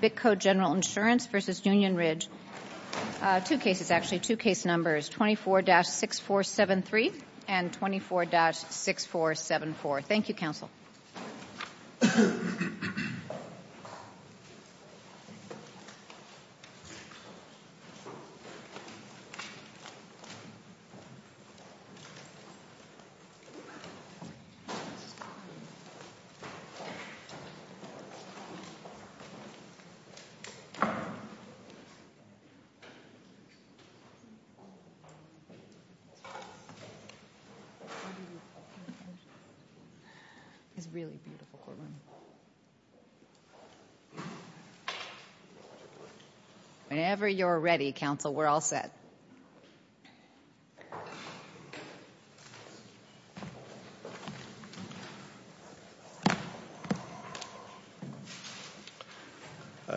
BITCO General Insurance Corporation v. Union Ridge Ranch, LLC 24-6473 and 24-6474 24-6474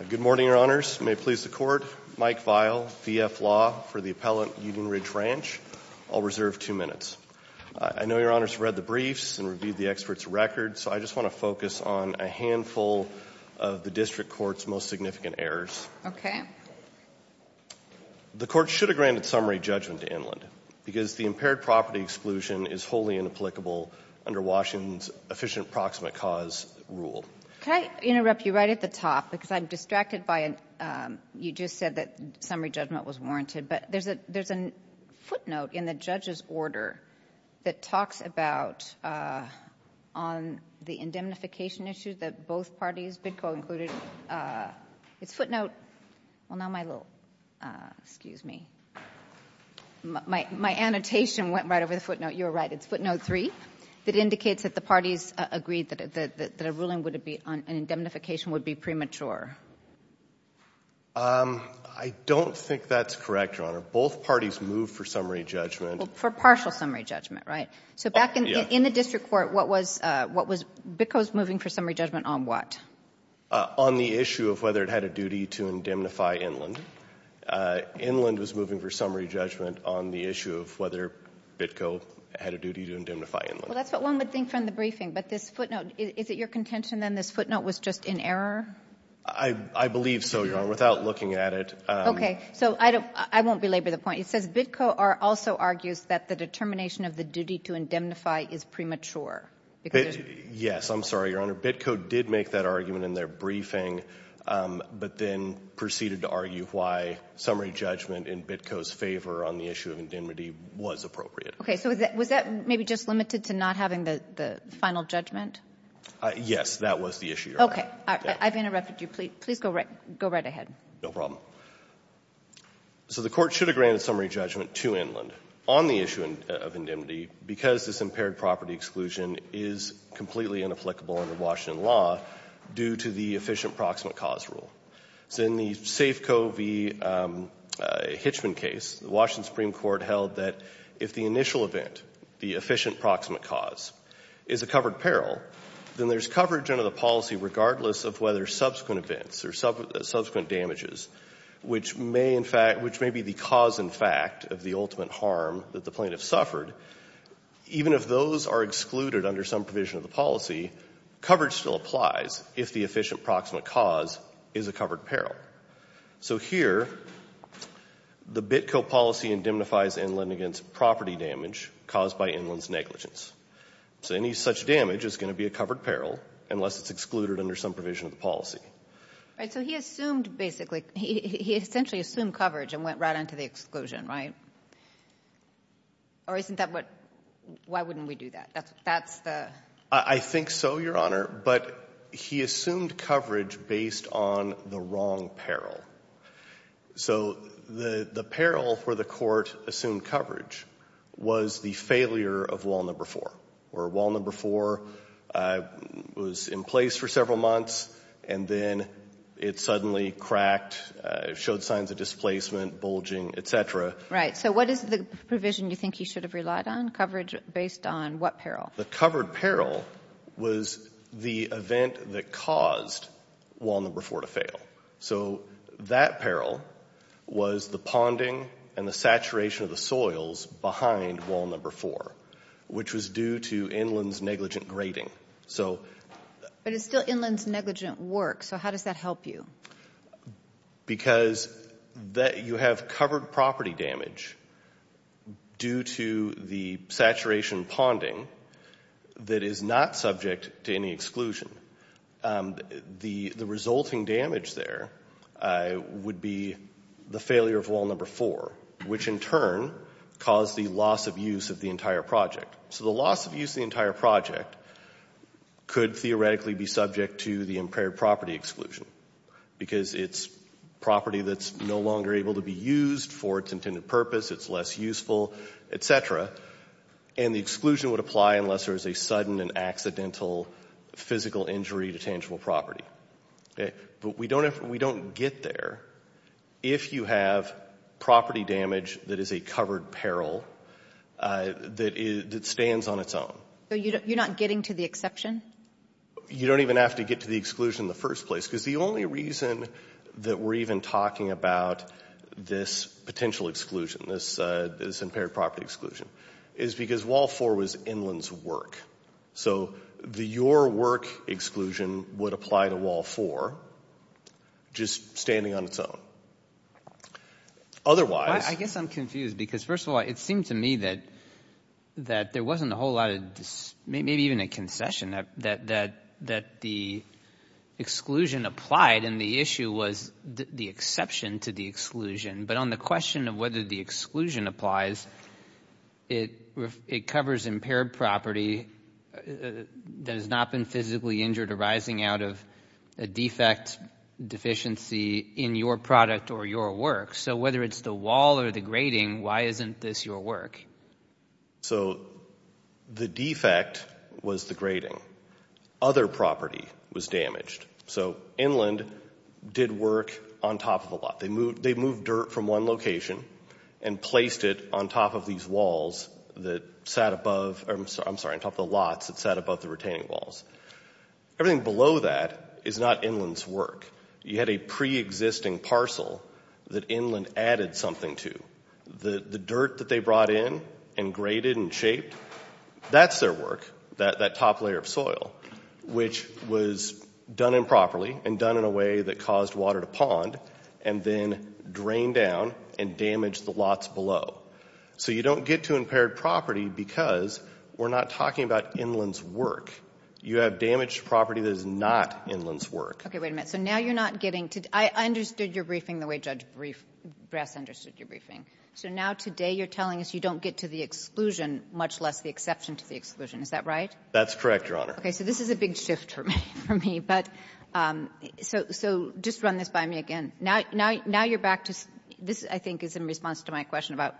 Good morning, Your Honors. May it please the Court, Mike Vial, VF Law for the Appellant, Union Ridge Ranch. I'll reserve two minutes. I know Your Honors read the briefs and reviewed the experts' records, so I just want to focus on a handful of the District Court's most significant errors. Okay. The Court should have granted summary judgment to Inland because the impaired property exclusion is wholly inapplicable under Washington's efficient proximate cause rule. Can I interrupt you right at the top because I'm distracted by you just said that summary judgment was warranted, but there's a footnote in the judge's order that talks about on the indemnification issue that both parties, Bidco included, its footnote, well now my little, excuse me, my annotation went right over the footnote. You're right. It's footnote 3 that indicates that the parties agreed that a ruling would be on indemnification would be premature. I don't think that's correct, Your Honor. Both parties moved for summary judgment. Well, for partial summary judgment, right? So back in the District Court, what was Bidco's moving for summary judgment on what? On the issue of whether it had a duty to indemnify Inland. Inland was moving for summary judgment on the issue of whether Bidco had a duty to indemnify Inland. Well, that's what one would think from the briefing, but this footnote, is it your contention then this footnote was just in error? I believe so, Your Honor, without looking at it. Okay. So I don't, I won't belabor the point. It says Bidco also argues that the determination of the duty to indemnify is premature. Yes. I'm sorry, Your Honor. Bidco did make that argument in their briefing, but then proceeded to argue why summary judgment in Bidco's favor on the issue of indemnity was appropriate. Okay. So was that maybe just limited to not having the final judgment? Yes. That was the issue, Your Honor. Okay. I've interrupted you. Please go right ahead. No problem. So the Court should have granted summary judgment to Inland on the issue of indemnity because this impaired property exclusion is completely inapplicable under Washington law due to the efficient proximate cause rule. So in the Safeco v. Hitchman case, the Washington Supreme Court held that if the initial event, the efficient proximate cause, is a covered peril, then there's coverage under the policy regardless of whether subsequent events or subsequent damages, which may in fact, which may be the cause in fact of the ultimate harm that the plaintiff suffered, even if those are excluded under some provision of the policy, coverage still applies if the efficient proximate cause is a covered peril. So here, the Bidco policy indemnifies Inland against property damage caused by Inland's negligence. So any such damage is going to be a covered peril unless it's excluded under some provision of the policy. Right. So he assumed basically, he essentially assumed coverage and went right on to the exclusion, right? Or isn't that what, why wouldn't we do that? That's the... I think so, Your Honor, but he assumed coverage based on the wrong peril. So the peril for the Court assumed coverage was the failure of Wall Number 4, where Wall Number 4 was in place for several months, and then it suddenly cracked, showed signs of displacement, bulging, et cetera. Right. So what is the provision you think he should have relied on? Coverage based on what peril? The covered peril was the event that caused Wall Number 4 to fail. So that peril was the ponding and the saturation of the soils behind Wall Number 4, which was due to Inland's negligent grading. So... But it's still Inland's negligent work, so how does that help you? Because you have covered property damage due to the saturation ponding that is not subject to any exclusion. The resulting damage there would be the failure of Wall Number 4, which in turn caused the loss of use of the entire project. So the loss of use of the entire project could theoretically be subject to the impaired property exclusion, because it's property that's no longer able to be used for its intended purpose, it's less useful, et cetera, and the exclusion would apply unless there was a sudden and accidental physical injury to tangible property. But we don't get there if you have property damage that is a covered peril that stands on its own. So you're not getting to the exception? You don't even have to get to the exclusion in the first place, because the only reason that we're even talking about this potential exclusion, this impaired property exclusion, is because Wall 4 was Inland's work. So the your work exclusion would apply to Wall 4, just standing on its own. Otherwise... I guess I'm confused, because first of all, it seemed to me that there wasn't a whole lot of, maybe even a concession, that the exclusion applied and the issue was the exception to the exclusion. But on the question of whether the exclusion applies, it covers impaired property that has not been physically injured arising out of a defect, deficiency in your product or your work. So whether it's the wall or the grating, why isn't this your work? So the defect was the grating. Other property was damaged. So Inland did work on top of the lot. They moved dirt from one location and placed it on top of these retaining walls that sat above, I'm sorry, on top of the lots that sat above the retaining walls. Everything below that is not Inland's work. You had a pre-existing parcel that Inland added something to. The dirt that they brought in and grated and shaped, that's their work, that top layer of soil, which was done improperly and done in a way that caused water to pond and then drained down and damaged the So you don't get to impaired property because we're not talking about Inland's work. You have damaged property that is not Inland's work. Okay. Wait a minute. So now you're not getting to the – I understood your briefing the way Judge Brass understood your briefing. So now today you're telling us you don't get to the exclusion, much less the exception to the exclusion. Is that right? That's correct, Your Honor. Okay. So this is a big shift for me. But so just run this by me again. Now you're back to – this, I think, is in response to my question about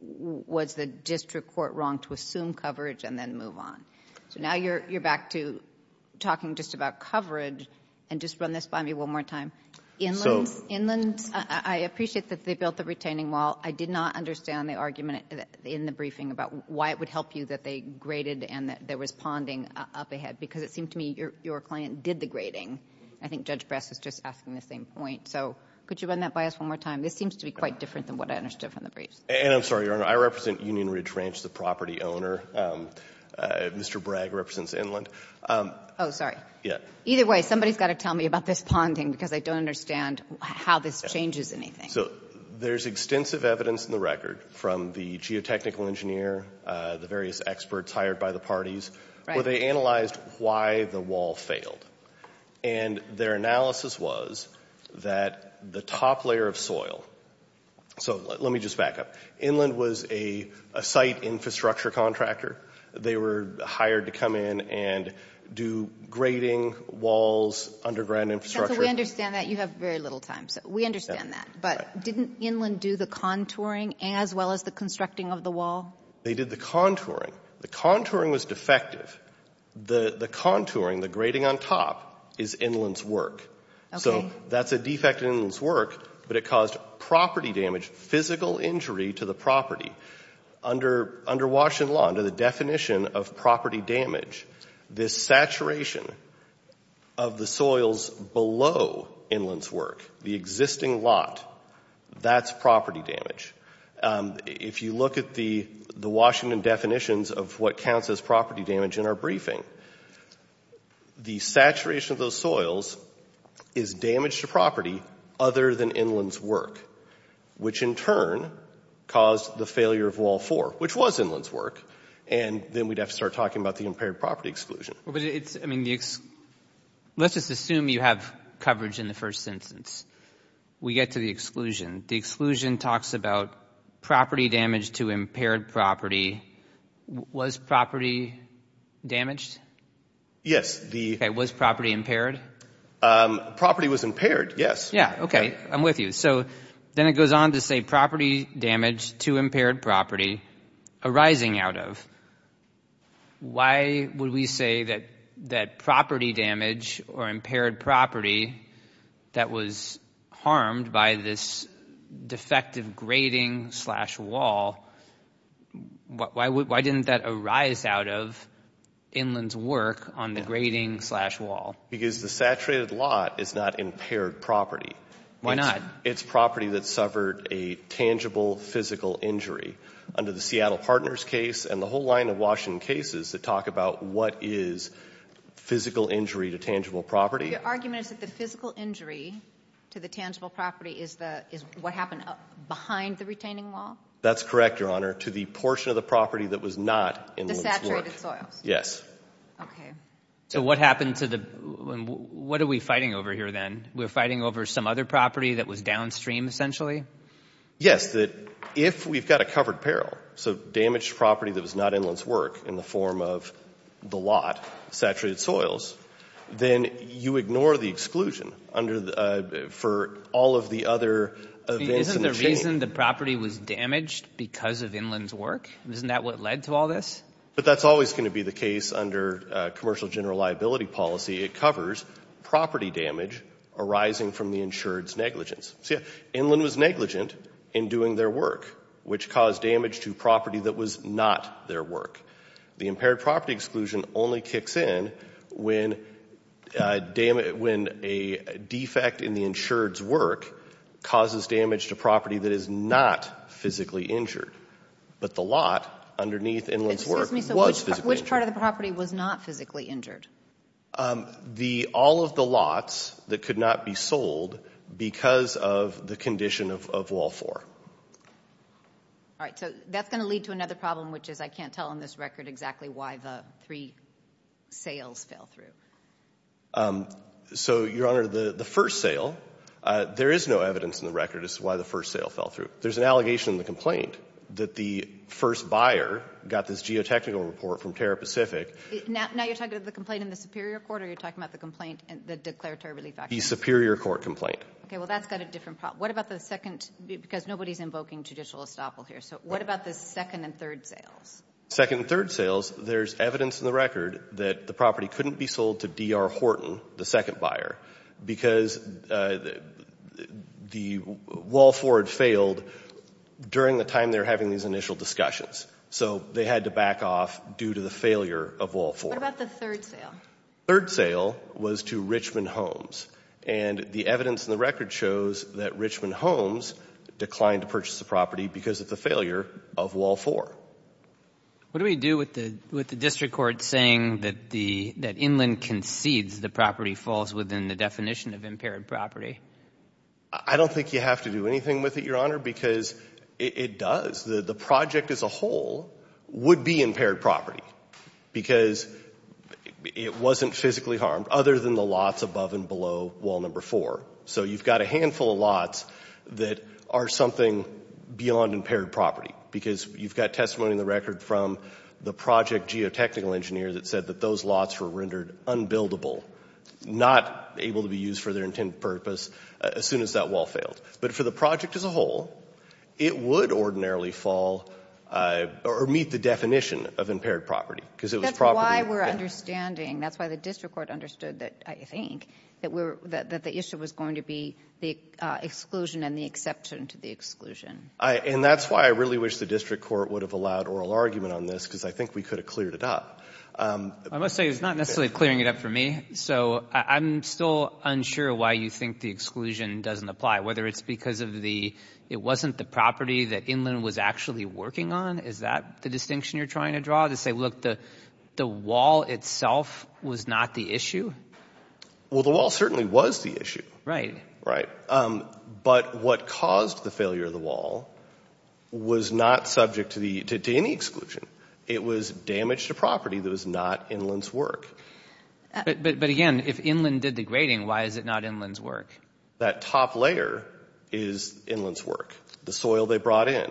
was the district court wrong to assume coverage and then move on. So now you're back to talking just about coverage. And just run this by me one more time. So Inland, I appreciate that they built the retaining wall. I did not understand the argument in the briefing about why it would help you that they grated and that there was ponding up ahead. Because it seemed to me your client did the grating. I think Judge Brass is just asking the same point. So could you run that by us one more time? This seems to be quite different than what I understood from the briefs. And I'm sorry, Your Honor. I represent Union Ridge Ranch, the property owner. Mr. Bragg represents Inland. Oh, sorry. Yeah. Either way, somebody's got to tell me about this ponding, because I don't understand how this changes anything. So there's extensive evidence in the record from the geotechnical engineer, the various experts hired by the parties, where they analyzed why the wall failed. And their analysis was that the top layer of soil, so let me just back up. Inland was a site infrastructure contractor. They were hired to come in and do grating, walls, underground infrastructure. So we understand that. You have very little time. So we understand that. But didn't Inland do the contouring as well as the constructing of the wall? They did the contouring. The contouring was defective. The contouring, the grating on top, is Inland's work. So that's a defect in Inland's work, but it caused property damage, physical injury to the property. Under Washington law, under the definition of property damage, this saturation of the soils below Inland's work, the existing lot, that's property damage. If you look at the Washington definitions of what counts as property damage in our briefing, the saturation of those soils is damage to property other than Inland's work, which in turn caused the failure of Wall 4, which was Inland's work. And then we'd have to start talking about the impaired property exclusion. Let's just assume you have coverage in the first instance. We get to the exclusion. The exclusion talks about property damage to impaired property. Was property damaged? Yes. Okay, was property impaired? Property was impaired, yes. Yeah, okay. I'm with you. So then it goes on to say property damage to impaired property arising out of. Why would we say that property damage or impaired property that was harmed by this defective grading slash wall, why didn't that arise out of Inland's work on the grading slash wall? Because the saturated lot is not impaired property. Why not? It's property that suffered a tangible physical injury. Under the Seattle Partners case and the whole line of Washington cases that talk about what is physical injury to tangible property. The argument is that the physical injury to the tangible property is what happened behind the retaining wall? That's correct, Your Honor, to the portion of the property that was not Inland's work. The saturated soils? Yes. Okay. So what happened to the... What are we fighting over here then? We're fighting over some other property that was downstream essentially? Yes. If we've got a covered peril, so damaged property that was not Inland's work in the form of the lot, saturated soils, then you ignore the exclusion for all of the other events in the chain. Isn't the reason the property was damaged because of Inland's work? Isn't that what led to all this? But that's always going to be the case under commercial general liability policy. It covers property damage arising from the insured's negligence. See, Inland was negligent in doing their work, which caused damage to property that was not their work. The impaired property exclusion only kicks in when a defect in the insured's work causes damage to property that is not physically injured, but the lot underneath Inland's work was physically injured. Excuse me. So which part of the property was not physically injured? All of the lots that could not be sold because of the condition of Wall 4. All right. So that's going to lead to another problem, which is I can't tell on this record exactly why the three sales fell through. So, Your Honor, the first sale, there is no evidence in the record as to why the first sale fell through. There's an allegation in the complaint that the first buyer got this geotechnical report from Terra Pacific. Now you're talking about the complaint in the superior court, or you're talking about the complaint in the declaratory relief action? The superior court complaint. Okay. Well, that's got a different problem. What about the second? Because nobody's invoking judicial estoppel here. So what about the second and third sales? Second and third sales, there's evidence in the record that the property couldn't be sold to D.R. Horton, the second buyer, because the Wall 4 had failed during the time they were having these initial discussions. So they had to back off due to the failure of Wall 4. What about the third sale? Third sale was to Richmond Homes. And the evidence in the record shows that Richmond Homes declined to purchase the property because of the failure of Wall 4. What do we do with the district court saying that Inland concedes the property falls within the definition of impaired property? I don't think you have to do anything with it, Your Honor, because it does. The project as a whole would be impaired property because it wasn't physically harmed other than the lots above and below Wall 4. So you've got a handful of lots that are something beyond impaired property, because you've got testimony in the record from the project geotechnical engineer that said that those lots were rendered unbuildable, not able to be used for their intended purpose as soon as that wall failed. But for the project as a whole, it would ordinarily fall or meet the definition of impaired property. Because it was property that — That's why we're understanding. That's why the district court understood that, I think, that the issue was going to be the exclusion and the exception to the exclusion. And that's why I really wish the district court would have allowed oral argument on this, because I think we could have cleared it up. I must say it's not necessarily clearing it up for me. So I'm still unsure why you think the exclusion doesn't apply, whether it's because of the — it wasn't the property that Inland was actually working on. Is that the distinction you're trying to draw, to say, look, the wall itself was not the issue? Well, the wall certainly was the issue. Right. Right. But what caused the failure of the wall was not subject to any exclusion. It was damage to property that was not Inland's work. But, again, if Inland did the grading, why is it not Inland's work? That top layer is Inland's work, the soil they brought in.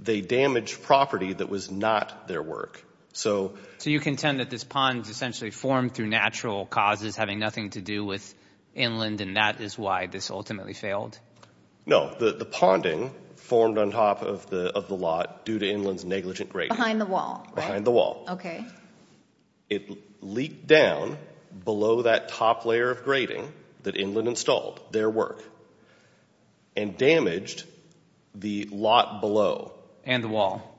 They damaged property that was not their work. So — So you contend that this pond essentially formed through natural causes having nothing to do with Inland, and that is why this ultimately failed? No. The ponding formed on top of the lot due to Inland's negligent grading. Behind the wall, right? Behind the wall. Okay. It leaked down below that top layer of grading that Inland installed, their work, and damaged the lot below. And the wall.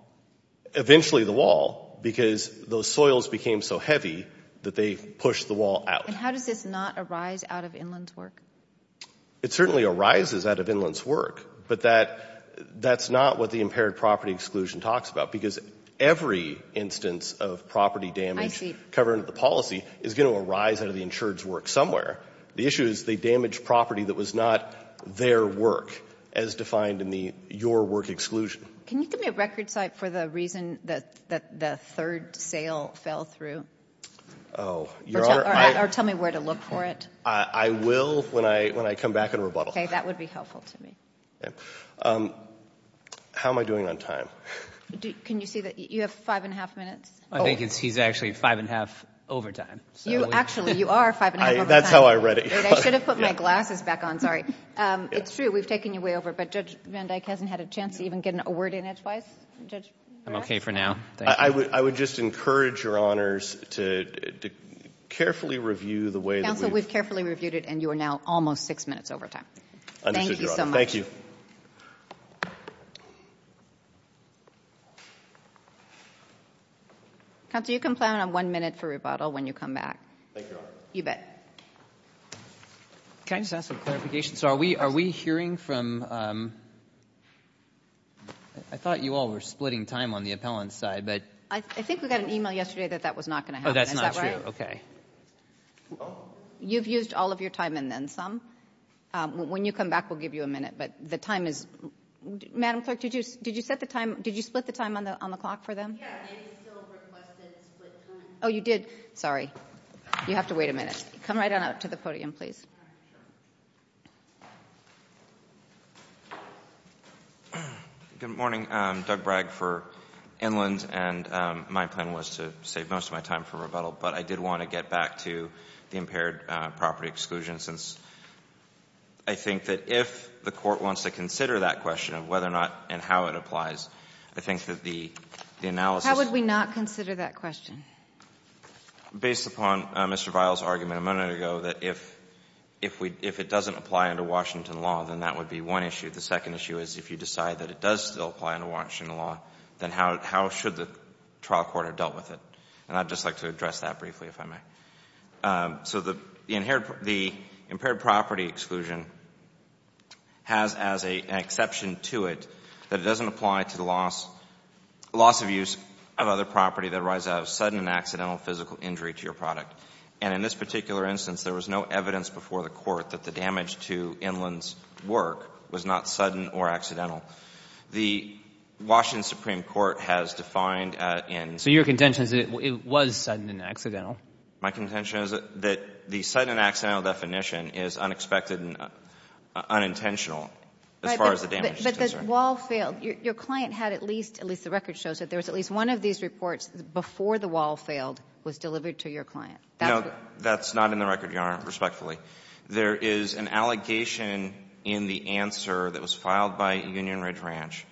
Eventually the wall, because those soils became so heavy that they pushed the wall out. And how does this not arise out of Inland's work? It certainly arises out of Inland's work, but that's not what the impaired property exclusion talks about, because every instance of property damage covered under the policy is going to arise out of the insured's work somewhere. The issue is they damaged property that was not their work, as defined in the your work exclusion. Can you give me a record site for the reason that the third sale fell through? Oh. Or tell me where to look for it. I will when I come back and rebuttal. That would be helpful to me. How am I doing on time? Can you see that you have five and a half minutes? I think he's actually five and a half over time. Actually, you are five and a half over time. That's how I read it. I should have put my glasses back on. Sorry. It's true. We've taken you way over, but Judge Van Dyke hasn't had a chance to even get a word in as wise. I'm okay for now. Thank you. I would just encourage Your Honors to carefully review the way that we've been doing. Counsel, we've carefully reviewed it, and you are now almost six minutes over time. Understood, Your Honor. Thank you so much. Thank you. Counsel, you can plan on one minute for rebuttal when you come back. Thank you, Your Honor. You bet. Can I just ask for clarification? So are we hearing from — I thought you all were splitting time on the appellant's side, but — I think we got an email yesterday that that was not going to happen. Oh, that's not true. Is that right? Okay. You've used all of your time and then some. When you come back, we'll give you a minute. But the time is — Madam Clerk, did you split the time on the clock for them? Yeah, they still requested split time. Oh, you did? Sorry. You have to wait a minute. Come right on up to the podium, please. Good morning. I'm Doug Bragg for Inland, and my plan was to save most of my time for rebuttal, but I did want to get back to the impaired property exclusion since I think that if the Court wants to consider that question of whether or not and how it applies, I think that the analysis — How would we not consider that question? Based upon Mr. Vial's argument a minute ago that if it doesn't apply under Washington law, then that would be one issue. The second issue is if you decide that it does still apply under Washington law, then how should the trial court have dealt with it? And I'd just like to address that briefly, if I may. So the impaired property exclusion has as an exception to it that it doesn't apply to the loss of use of other property that arises out of sudden and accidental physical injury to your product. And in this particular instance, there was no evidence before the Court that the The Washington Supreme Court has defined in — So your contention is that it was sudden and accidental? My contention is that the sudden and accidental definition is unexpected and unintentional as far as the damage is concerned. But the wall failed. Your client had at least — at least the record shows that there was at least one of these reports before the wall failed was delivered to your client. No, that's not in the record, Your Honor, respectfully. There is an allegation in the answer that was filed by Union Ridge Ranch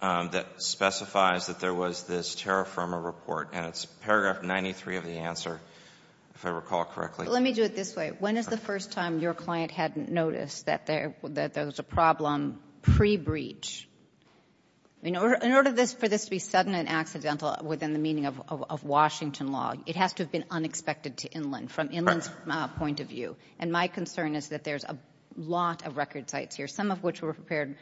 that specifies that there was this terra firma report, and it's paragraph 93 of the answer, if I recall correctly. Let me do it this way. When is the first time your client hadn't noticed that there was a problem pre-breach? In order for this to be sudden and accidental within the meaning of Washington law, it has to have been unexpected to Inland, from Inland's point of view. And my concern is that there's a lot of record sites here, some of which were prepared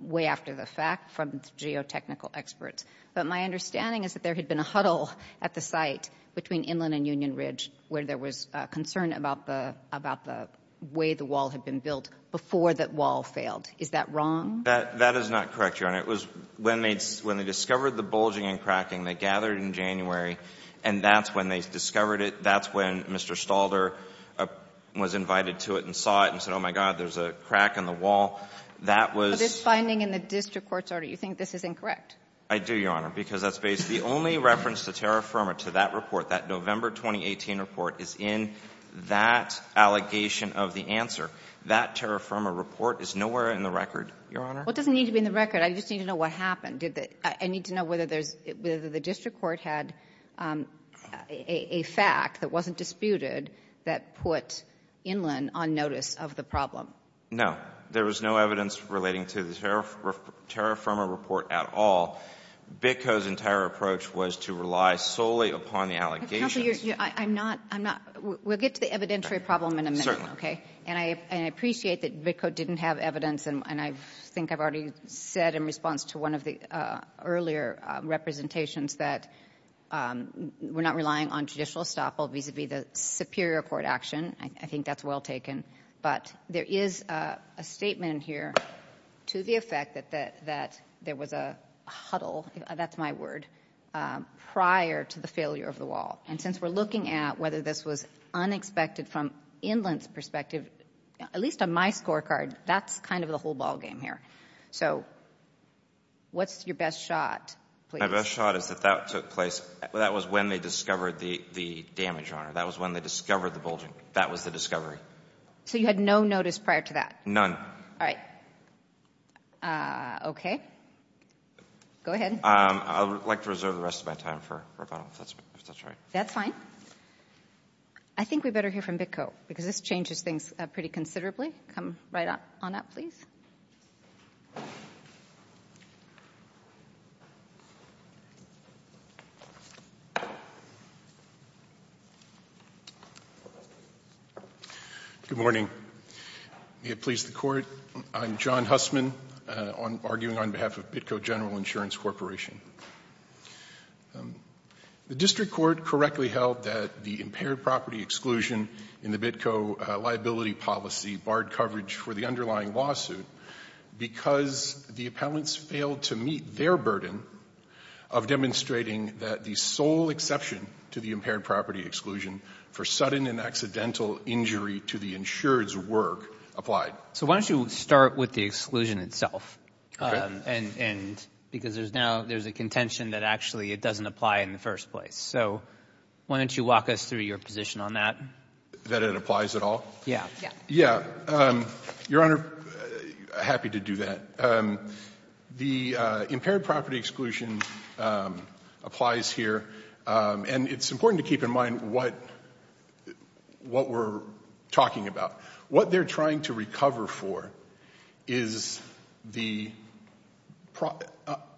way after the fact from geotechnical experts. But my understanding is that there had been a huddle at the site between Inland and Union Ridge where there was concern about the way the wall had been built before that wall failed. Is that wrong? That is not correct, Your Honor. It was when they discovered the bulging and cracking. They gathered in January, and that's when they discovered it. That's when Mr. Stalder was invited to it and saw it and said, oh, my God, there's a crack in the wall. That was — But this finding in the district court's order, you think this is incorrect? I do, Your Honor, because that's basically the only reference to terra firma, to that report, that November 2018 report, is in that allegation of the answer. That terra firma report is nowhere in the record, Your Honor. Well, it doesn't need to be in the record. I just need to know what happened. I need to know whether there's — whether the district court had a fact that wasn't disputed that put Inland on notice of the problem. There was no evidence relating to the terra firma report at all. BITCO's entire approach was to rely solely upon the allegations. Counsel, I'm not — I'm not — we'll get to the evidentiary problem in a minute. Certainly. Okay? And I appreciate that BITCO didn't have evidence, and I think I've already said in response to one of the earlier representations that we're not relying on judicial estoppel vis-à-vis the superior court action. I think that's well taken. But there is a statement here to the effect that there was a huddle, that's my word, prior to the failure of the wall. And since we're looking at whether this was unexpected from Inland's perspective, at least on my scorecard, that's kind of the whole ballgame here. So what's your best shot, please? My best shot is that that took place — that was when they discovered the damage on her. That was when they discovered the bulging. That was the discovery. So you had no notice prior to that? None. All right. Okay. Go ahead. I would like to reserve the rest of my time for rebuttal, if that's right. That's fine. I think we better hear from BITCO, because this changes things pretty considerably. Come right on up, please. Good morning. May it please the Court, I'm John Hussman, arguing on behalf of BITCO General Insurance Corporation. The district court correctly held that the impaired property exclusion in the BITCO liability policy barred coverage for the underlying lawsuit because the appellants failed to meet their burden of demonstrating that the sole exception to the impaired property exclusion for sudden and accidental injury to the insured's work applied. So why don't you start with the exclusion itself, because now there's a contention that actually it doesn't apply in the first place. So why don't you walk us through your position on that? That it applies at all? Yeah. Yeah. Your Honor, happy to do that. The impaired property exclusion applies here, and it's important to keep in mind what we're talking about. What they're trying to recover for is the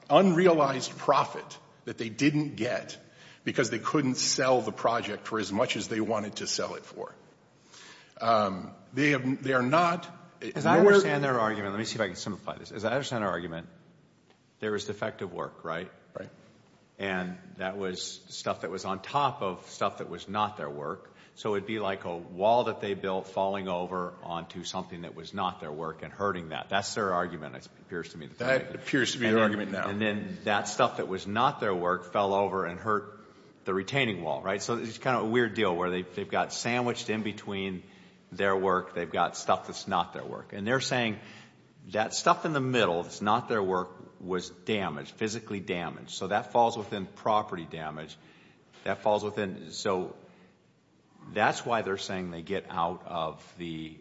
unrealized profit that they didn't get because they couldn't sell the project for as much as they wanted to sell it for. They are not more of the same. As I understand their argument, let me see if I can simplify this. As I understand their argument, there was defective work, right? Right. And that was stuff that was on top of stuff that was not their work, so it would be like a wall that they built falling over onto something that was not their work and hurting that. That's their argument, it appears to me. That appears to be their argument now. And then that stuff that was not their work fell over and hurt the retaining wall, right? So it's kind of a weird deal where they've got sandwiched in between their work, they've got stuff that's not their work. And they're saying that stuff in the middle that's not their work was damaged, physically damaged, so that falls within property damage. That falls within, so that's why they're saying they get out of the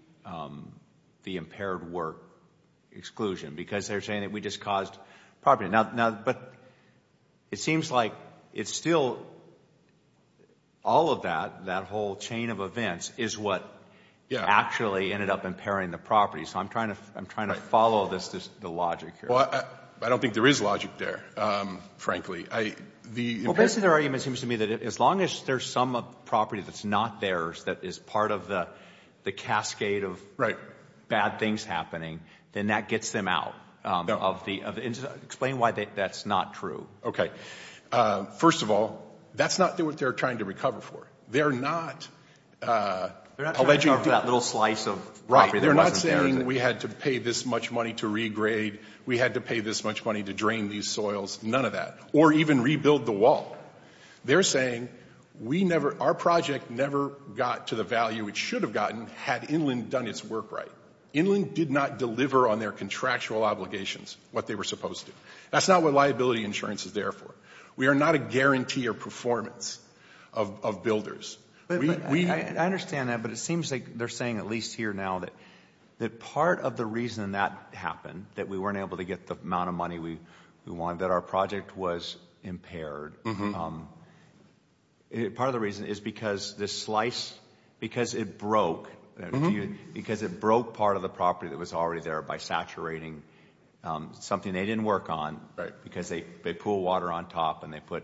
impaired work exclusion because they're saying that we just caused property. Now, but it seems like it's still all of that, that whole chain of events, is what actually ended up impairing the property. So I'm trying to follow the logic here. Well, I don't think there is logic there, frankly. Well, basically their argument seems to me that as long as there's some property that's not theirs that is part of the cascade of bad things happening, then that gets them out of the incident. Explain why that's not true. First of all, that's not what they're trying to recover for. They're not alleging that little slice of property. They're not saying we had to pay this much money to regrade, we had to pay this much money to drain these soils, none of that, or even rebuild the wall. They're saying our project never got to the value it should have gotten had Inland done its work right. Inland did not deliver on their contractual obligations what they were supposed to. That's not what liability insurance is there for. We are not a guarantee of performance of builders. I understand that, but it seems like they're saying at least here now that part of the reason that happened, that we weren't able to get the amount of money we wanted, that our project was impaired, part of the reason is because this slice, because it broke, because it broke part of the property that was already there by saturating something they didn't work on, because they pooled water on top and they put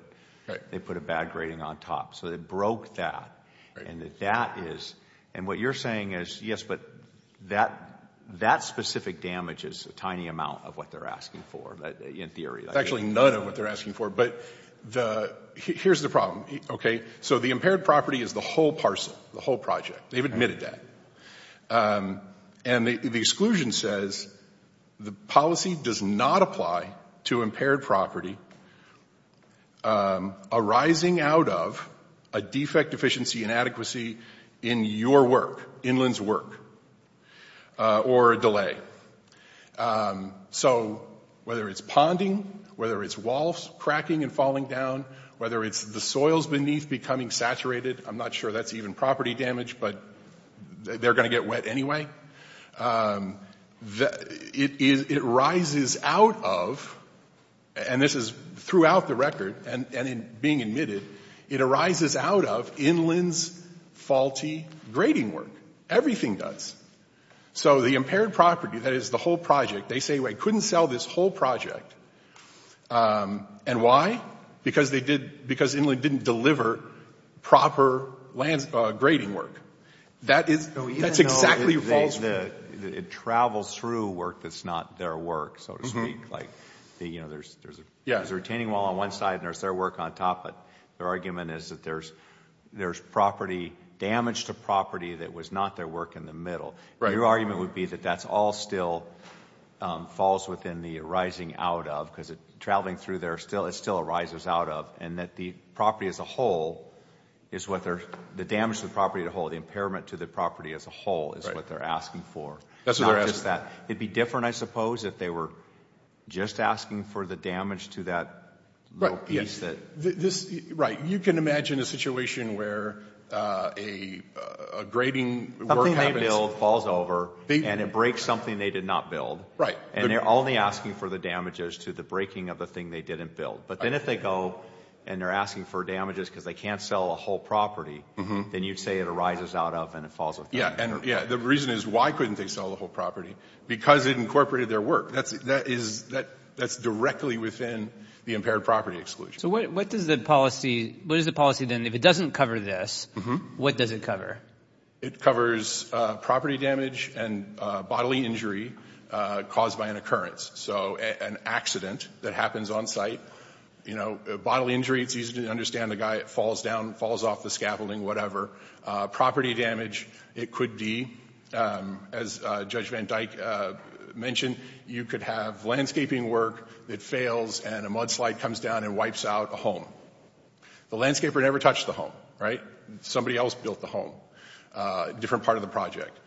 a bad grading on top. So it broke that, and what you're saying is yes, but that specific damage is a tiny amount of what they're asking for, in theory. It's actually none of what they're asking for, but here's the problem. So the impaired property is the whole parcel, the whole project. They've admitted that, and the exclusion says the policy does not apply to impaired property arising out of a defect deficiency inadequacy in your work, Inland's work, or a delay. So whether it's ponding, whether it's walls cracking and falling down, whether it's the soils beneath becoming saturated, I'm not sure that's even property damage, but they're going to get wet anyway. It arises out of, and this is throughout the record and being admitted, it arises out of Inland's faulty grading work. Everything does. So the impaired property, that is the whole project, they say, wait, couldn't sell this whole project. And why? Because Inland didn't deliver proper grading work. That's exactly false. It travels through work that's not their work, so to speak. There's a retaining wall on one side and there's their work on top, but their argument is that there's damage to property that was not their work in the middle. Your argument would be that that all still falls within the arising out of, because traveling through there, it still arises out of, and that the property as a whole is what they're, the damage to the property as a whole, the impairment to the property as a whole is what they're asking for. It's not just that. It would be different, I suppose, if they were just asking for the damage to that little piece. Right. You can imagine a situation where a grading work happens. Something they build falls over and it breaks something they did not build. Right. And they're only asking for the damages to the breaking of the thing they didn't build. But then if they go and they're asking for damages because they can't sell a whole property, then you'd say it arises out of and it falls with them. Yeah, and the reason is why couldn't they sell the whole property? Because it incorporated their work. That's directly within the impaired property exclusion. So what is the policy then? If it doesn't cover this, what does it cover? It covers property damage and bodily injury caused by an occurrence, so an accident that happens on site. You know, bodily injury, it's easy to understand. The guy falls down, falls off the scaffolding, whatever. Property damage, it could be, as Judge Van Dyke mentioned, you could have landscaping work that fails and a mudslide comes down and wipes out a home. The landscaper never touched the home. Right? Somebody else built the home, different part of the project.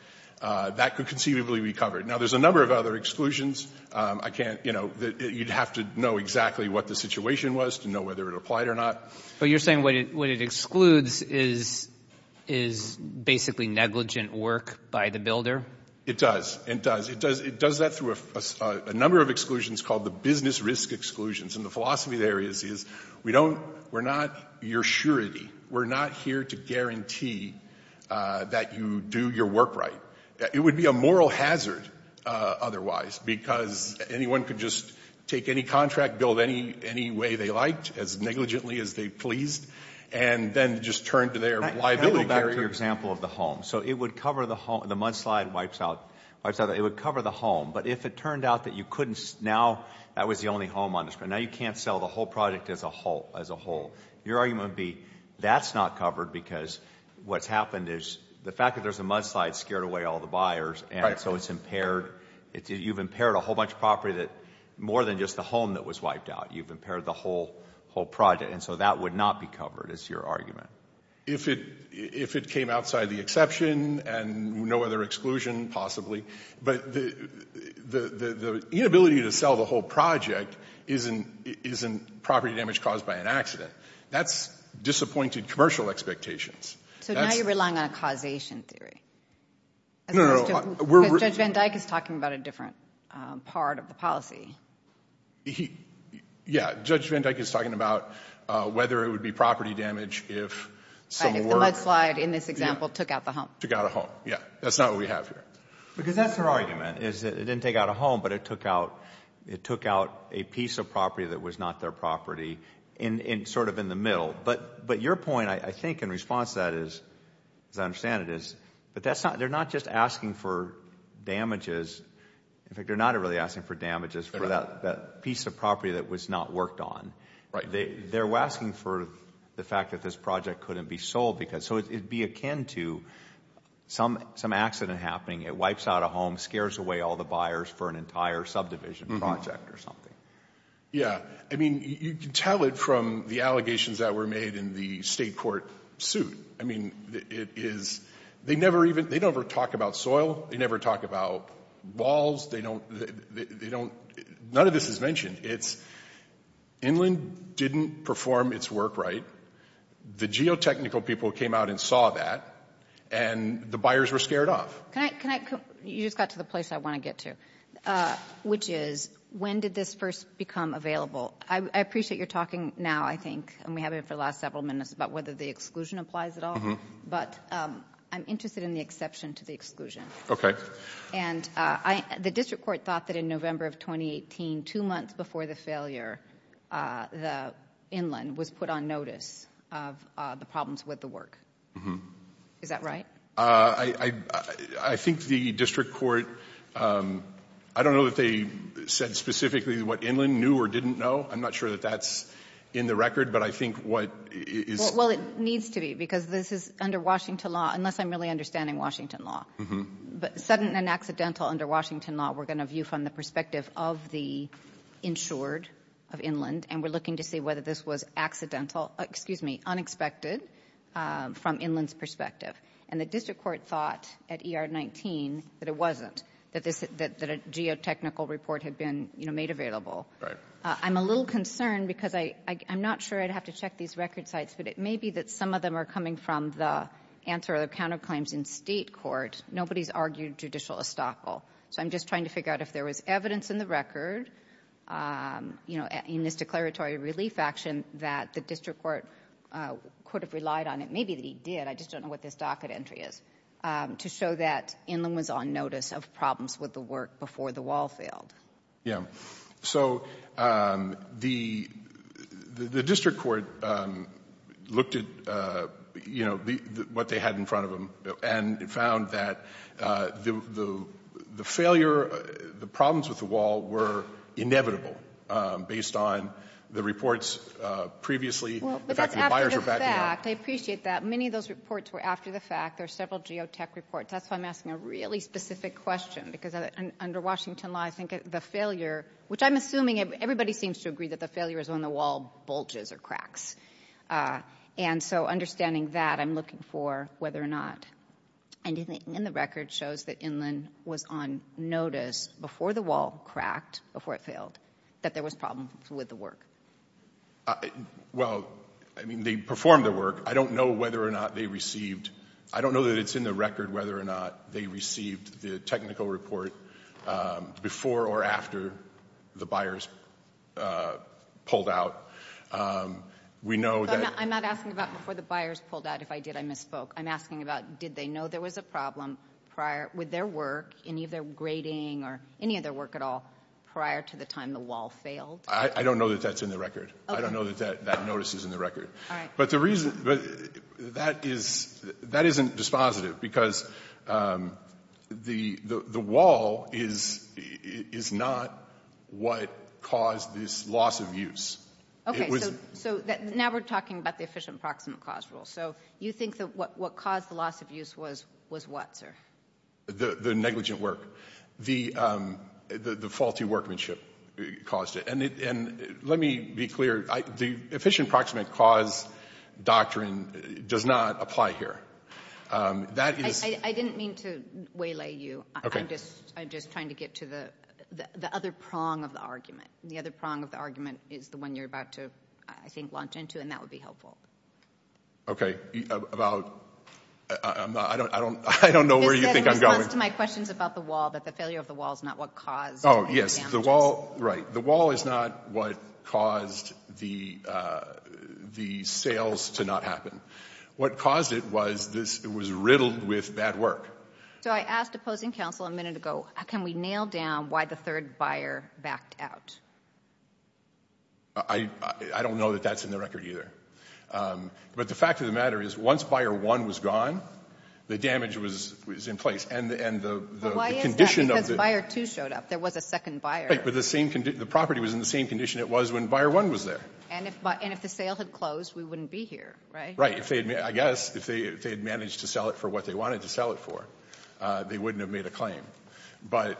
That could conceivably be covered. Now, there's a number of other exclusions. I can't, you know, you'd have to know exactly what the situation was to know whether it applied or not. But you're saying what it excludes is basically negligent work by the builder? It does. It does. It does that through a number of exclusions called the business risk exclusions. And the philosophy there is we don't, we're not your surety. We're not here to guarantee that you do your work right. It would be a moral hazard otherwise because anyone could just take any contract, build any way they liked, as negligently as they pleased, and then just turn to their liability carrier. Can I go back to your example of the home? So it would cover the home, the mudslide wipes out, it would cover the home. But if it turned out that you couldn't, now that was the only home on the screen. But now you can't sell the whole project as a whole. Your argument would be that's not covered because what's happened is the fact that there's a mudslide scared away all the buyers. And so it's impaired. You've impaired a whole bunch of property that more than just the home that was wiped out. You've impaired the whole project. And so that would not be covered is your argument. If it came outside the exception and no other exclusion possibly. But the inability to sell the whole project isn't property damage caused by an accident. That's disappointed commercial expectations. So now you're relying on a causation theory. No, no. Because Judge Van Dyke is talking about a different part of the policy. Yeah. Judge Van Dyke is talking about whether it would be property damage if some work. If the mudslide in this example took out the home. Took out a home, yeah. That's not what we have here. Because that's her argument is that it didn't take out a home, but it took out a piece of property that was not their property in sort of in the middle. But your point, I think, in response to that is, as I understand it, is they're not just asking for damages. In fact, they're not really asking for damages for that piece of property that was not worked on. They're asking for the fact that this project couldn't be sold. So it would be akin to some accident happening. It wipes out a home, scares away all the buyers for an entire subdivision project or something. Yeah. I mean, you can tell it from the allegations that were made in the state court suit. I mean, it is. They never even. They never talk about soil. They never talk about walls. They don't. None of this is mentioned. It's inland didn't perform its work right. The geotechnical people came out and saw that, and the buyers were scared off. Can I? You just got to the place I want to get to, which is when did this first become available? I appreciate you're talking now, I think, and we have it for the last several minutes, about whether the exclusion applies at all. But I'm interested in the exception to the exclusion. Okay. And the district court thought that in November of 2018, two months before the failure, the inland was put on notice of the problems with the work. Is that right? I think the district court, I don't know that they said specifically what inland knew or didn't know. I'm not sure that that's in the record, but I think what is. Well, it needs to be, because this is under Washington law, unless I'm really understanding Washington law. But sudden and accidental under Washington law, we're going to view from the perspective of the insured of inland, and we're looking to see whether this was accidental, excuse me, unexpected from inland's perspective. And the district court thought at ER 19 that it wasn't, that a geotechnical report had been made available. I'm a little concerned because I'm not sure I'd have to check these record sites, but it may be that some of them are coming from the answer of the counterclaims in state court. Nobody's argued judicial estoppel. So I'm just trying to figure out if there was evidence in the record, you know, in this declaratory relief action that the district court could have relied on. It may be that he did. I just don't know what this docket entry is, to show that inland was on notice of problems with the work before the wall failed. Yeah. So the district court looked at, you know, what they had in front of them and found that the failure, the problems with the wall were inevitable based on the reports previously. Well, but that's after the fact. I appreciate that. Many of those reports were after the fact. There are several geotech reports. That's why I'm asking a really specific question, because under Washington law, I think the failure, which I'm assuming everybody seems to agree that the failure is when the wall bulges or cracks. And so understanding that, I'm looking for whether or not anything in the record shows that inland was on notice before the wall cracked, before it failed, that there was problems with the work. Well, I mean, they performed the work. I don't know whether or not they received. I don't know that it's in the record whether or not they received the technical report before or after the buyers pulled out. We know that. I'm not asking about before the buyers pulled out. If I did, I misspoke. I'm asking about did they know there was a problem prior, with their work, any of their grading or any of their work at all prior to the time the wall failed? I don't know that that's in the record. I don't know that that notice is in the record. All right. But the reason that is, that isn't dispositive because the wall is not what caused this loss of use. So now we're talking about the efficient proximate cause rule. So you think that what caused the loss of use was what, sir? The negligent work. The faulty workmanship caused it. Let me be clear. The efficient proximate cause doctrine does not apply here. I didn't mean to waylay you. I'm just trying to get to the other prong of the argument. The other prong of the argument is the one you're about to, I think, launch into, and that would be helpful. Okay. About? I don't know where you think I'm going. My question is about the wall, that the failure of the wall is not what caused it. Oh, yes. Right. The wall is not what caused the sales to not happen. What caused it was it was riddled with bad work. So I asked opposing counsel a minute ago, can we nail down why the third buyer backed out? I don't know that that's in the record either. But the fact of the matter is once buyer one was gone, the damage was in place. But why is that? Because buyer two showed up. There was a second buyer. But the property was in the same condition it was when buyer one was there. And if the sale had closed, we wouldn't be here, right? Right. I guess if they had managed to sell it for what they wanted to sell it for, they wouldn't have made a claim. But,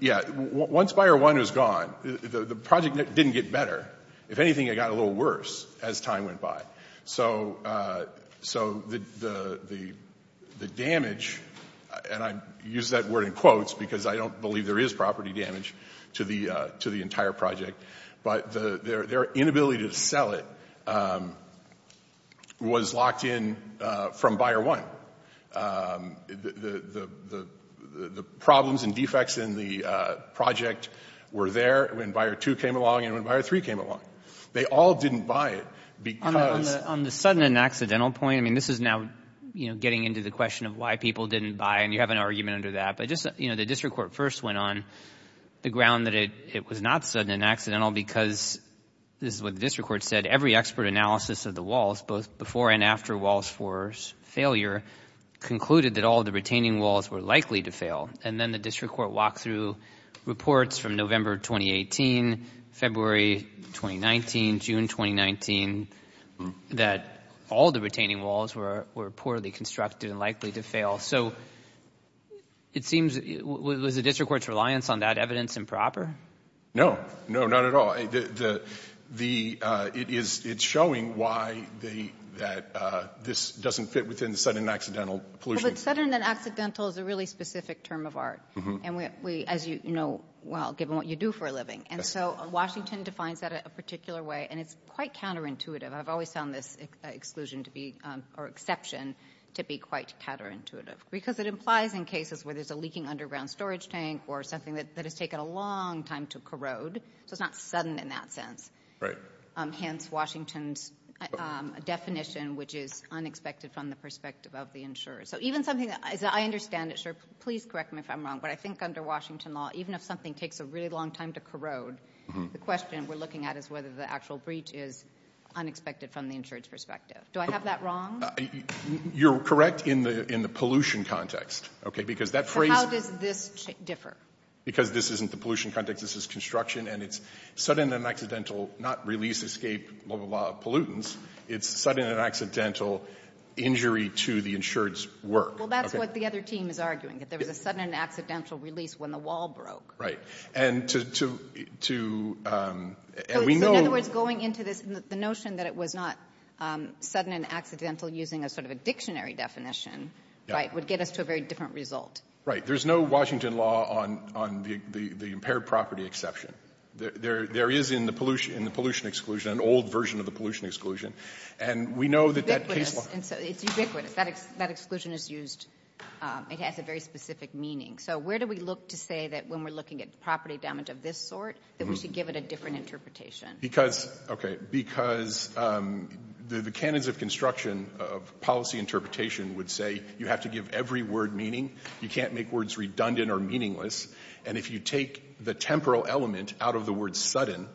yeah, once buyer one was gone, the project didn't get better. If anything, it got a little worse as time went by. So the damage, and I use that word in quotes because I don't believe there is property damage to the entire project, but their inability to sell it was locked in from buyer one. The problems and defects in the project were there when buyer two came along and when buyer three came along. They all didn't buy it because— On the sudden and accidental point, I mean this is now getting into the question of why people didn't buy, and you have an argument under that. But just the district court first went on the ground that it was not sudden and accidental because this is what the district court said. Every expert analysis of the walls, both before and after Walls 4's failure, concluded that all the retaining walls were likely to fail. And then the district court walked through reports from November 2018, February 2019, June 2019, that all the retaining walls were poorly constructed and likely to fail. So it seems — was the district court's reliance on that evidence improper? No, not at all. The — it is — it's showing why they — that this doesn't fit within the sudden and accidental pollution. But sudden and accidental is a really specific term of art. And we — as you know well, given what you do for a living. And so Washington defines that a particular way, and it's quite counterintuitive. I've always found this exclusion to be — or exception to be quite counterintuitive. Because it implies in cases where there's a leaking underground storage tank or something that has taken a long time to corrode. So it's not sudden in that sense. Right. Hence Washington's definition, which is unexpected from the perspective of the insurer. So even something — as I understand it, sir, please correct me if I'm wrong. But I think under Washington law, even if something takes a really long time to corrode, the question we're looking at is whether the actual breach is unexpected from the insurer's perspective. Do I have that wrong? You're correct in the — in the pollution context. Okay. Because that phrase — So how does this differ? Because this isn't the pollution context. This is construction. And it's sudden and accidental, not release, escape, blah, blah, blah, pollutants. It's sudden and accidental injury to the insured's work. Well, that's what the other team is arguing, that there was a sudden and accidental release when the wall broke. Right. And to — and we know — So in other words, going into this, the notion that it was not sudden and accidental using a sort of a dictionary definition would get us to a very different result. Right. There's no Washington law on the impaired property exception. There is in the pollution exclusion, an old version of the pollution exclusion. And we know that that case law — It's ubiquitous. That exclusion is used — it has a very specific meaning. So where do we look to say that when we're looking at property damage of this sort, that we should give it a different interpretation? Because — okay. Because the canons of construction of policy interpretation would say you have to give every word meaning. You can't make words redundant or meaningless. And if you take the temporal element out of the word sudden,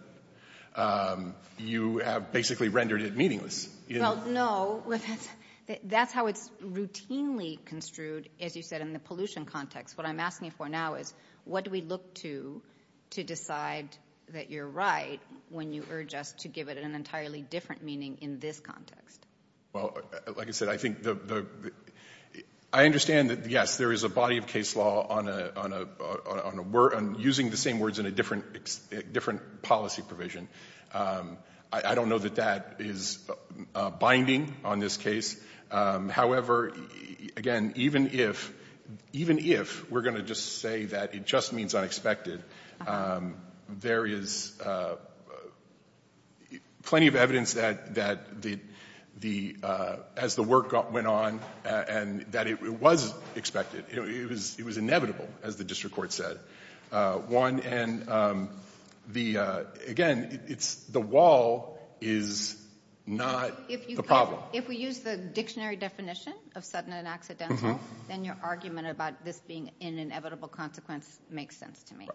you have basically rendered it meaningless. Well, no. That's how it's routinely construed, as you said, in the pollution context. What I'm asking for now is what do we look to to decide that you're right when you urge us to give it an entirely different meaning in this context? Well, like I said, I think the — I understand that, yes, there is a body of case law on using the same words in a different policy provision. I don't know that that is binding on this case. However, again, even if — even if we're going to just say that it just means unexpected, there is plenty of evidence that the — as the work went on and that it was expected, it was inevitable, as the district court said. One, and the — again, it's — the wall is not the problem. If we use the dictionary definition of sudden and accidental, then your argument about this being an inevitable consequence makes sense to me.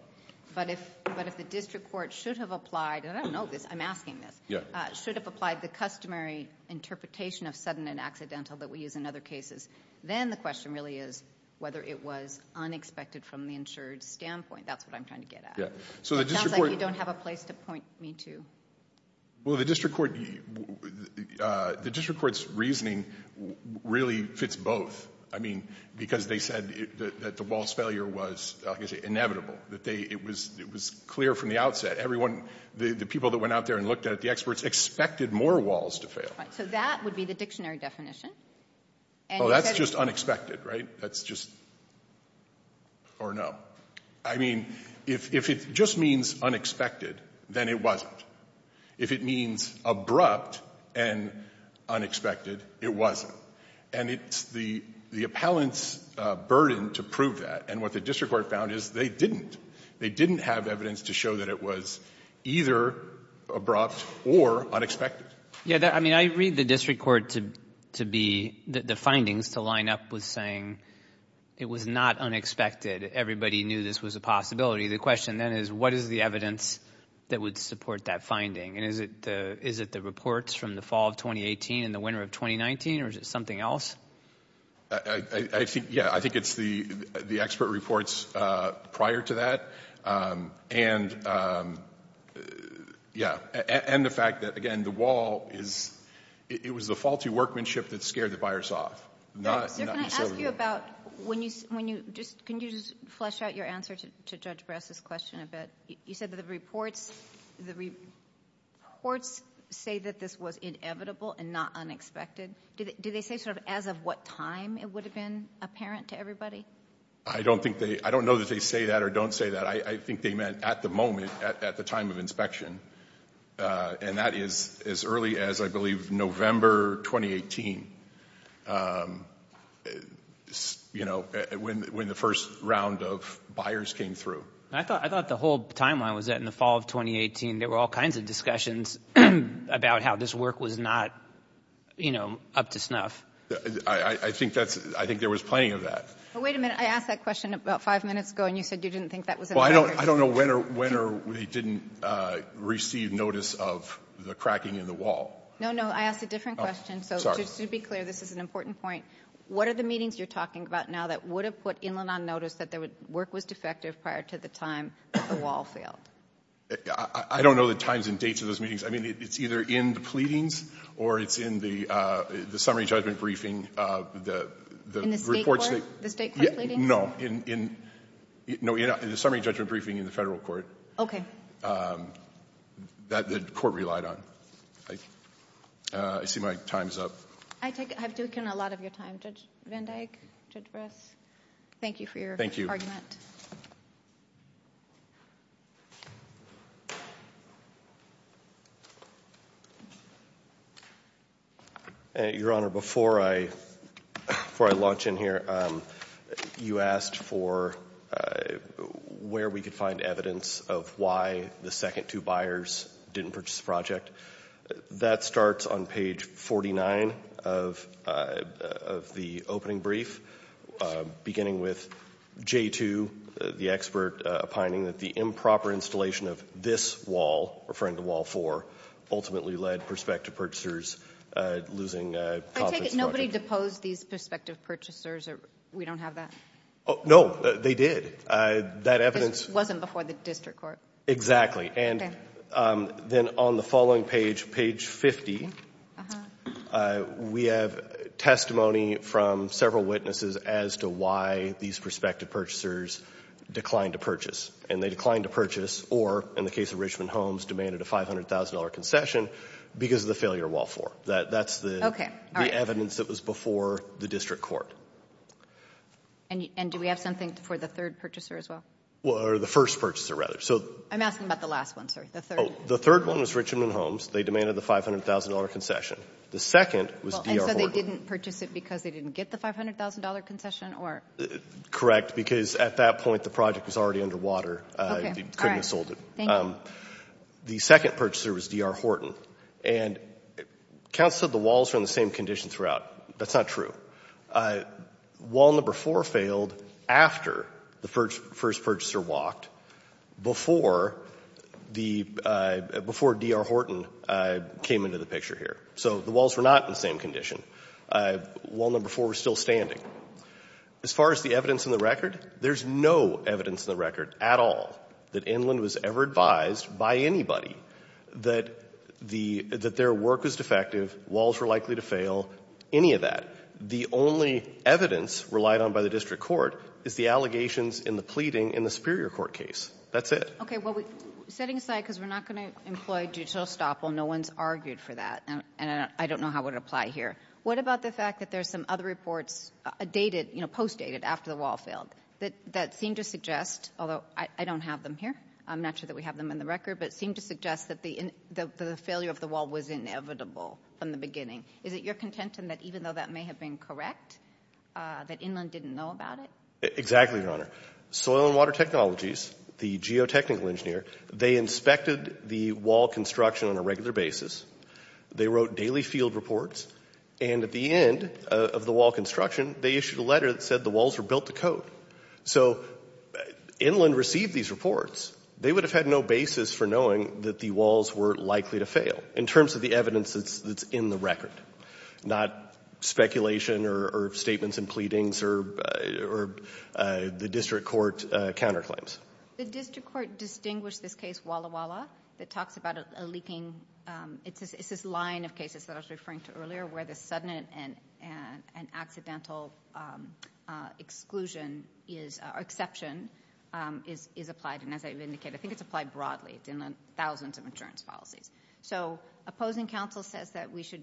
But if the district court should have applied — and I don't know this, I'm asking this — should have applied the customary interpretation of sudden and accidental that we use in other cases, then the question really is whether it was unexpected from the insured standpoint. That's what I'm trying to get at. It sounds like you don't have a place to point me to. Well, the district court — the district court's reasoning really fits both. I mean, because they said that the wall's failure was, like I say, inevitable, that they — it was clear from the outset. Everyone — the people that went out there and looked at it, the experts, expected more walls to fail. Right. So that would be the dictionary definition. Oh, that's just unexpected, right? That's just — or no. I mean, if it just means unexpected, then it wasn't. If it means abrupt and unexpected, it wasn't. And it's the appellant's burden to prove that. And what the district court found is they didn't. They didn't have evidence to show that it was either abrupt or unexpected. Yeah, I mean, I read the district court to be — the findings to line up with saying it was not unexpected. Everybody knew this was a possibility. The question, then, is what is the evidence that would support that finding? And is it the reports from the fall of 2018 and the winter of 2019, or is it something else? I think — yeah, I think it's the expert reports prior to that. And, yeah, and the fact that, again, the wall is — it was the faulty workmanship that scared the buyers off, not — Sir, can I ask you about when you — can you just flesh out your answer to Judge Bress's question a bit? You said that the reports say that this was inevitable and not unexpected. Did they say sort of as of what time it would have been apparent to everybody? I don't think they — I don't know that they say that or don't say that. I think they meant at the moment, at the time of inspection, and that is as early as, I believe, November 2018, you know, when the first round of buyers came through. I thought the whole timeline was that in the fall of 2018, there were all kinds of discussions about how this work was not, you know, up to snuff. I think that's — I think there was plenty of that. Wait a minute. I asked that question about five minutes ago, and you said you didn't think that was — Well, I don't know when or we didn't receive notice of the cracking in the wall. No, no. I asked a different question. Oh, sorry. So just to be clear, this is an important point. What are the meetings you're talking about now that would have put Inland on notice that work was defective prior to the time that the wall failed? I don't know the times and dates of those meetings. I mean, it's either in the pleadings or it's in the summary judgment briefing. In the state court? The state court pleadings? No, in the summary judgment briefing in the federal court. That the court relied on. I see my time's up. I've taken a lot of your time. Judge Van Dyck, Judge Briss, thank you for your argument. Thank you. Your Honor, before I launch in here, you asked for where we could find evidence of why the second two buyers didn't purchase the project. That starts on page 49 of the opening brief, beginning with J2, the expert, opining that the improper installation of this wall, referring to Wall 4, ultimately led prospective purchasers losing profits. I take it nobody deposed these prospective purchasers. We don't have that? No, they did. That evidence wasn't before the district court. Exactly. And then on the following page, page 50, we have testimony from several witnesses as to why these prospective purchasers declined to purchase. And they declined to purchase or, in the case of Richmond Homes, demanded a $500,000 concession because of the failure of Wall 4. That's the evidence that was before the district court. And do we have something for the third purchaser as well? Or the first purchaser, rather. I'm asking about the last one, sir, the third. The third one was Richmond Homes. They demanded the $500,000 concession. The second was D.R. Horton. And so they didn't purchase it because they didn't get the $500,000 concession, or? Correct, because at that point the project was already under water. Okay. They couldn't have sold it. Thank you. The second purchaser was D.R. Horton. And counsel said the walls were in the same condition throughout. That's not true. Wall Number 4 failed after the first purchaser walked before the — before D.R. Horton came into the picture here. So the walls were not in the same condition. Wall Number 4 was still standing. As far as the evidence in the record, there's no evidence in the record at all that Inland was ever advised by anybody that the — that their work was defective, walls were likely to fail, any of that. The only evidence relied on by the district court is the allegations in the pleading in the Superior Court case. That's it. Well, setting aside, because we're not going to employ judicial estoppel, no one's argued for that, and I don't know how it would apply here. What about the fact that there's some other reports dated, you know, post-dated after the wall failed that seem to suggest, although I don't have them here, I'm not sure that we have them in the record, but seem to suggest that the failure of the wall was inevitable from the beginning. Is it your contention that even though that may have been correct, that Inland didn't know about it? Exactly, Your Honor. Soil and Water Technologies, the geotechnical engineer, they inspected the wall construction on a regular basis. They wrote daily field reports. And at the end of the wall construction, they issued a letter that said the walls were built to code. So Inland received these reports. They would have had no basis for knowing that the walls were likely to fail in terms of the evidence that's in the record, not speculation or statements and pleadings or the district court counterclaims. The district court distinguished this case, Walla Walla, that talks about a leaking – it's this line of cases that I was referring to earlier where the sudden and accidental exclusion is – or exception is applied. And as I've indicated, I think it's applied broadly. It's in the thousands of insurance policies. So opposing counsel says that we should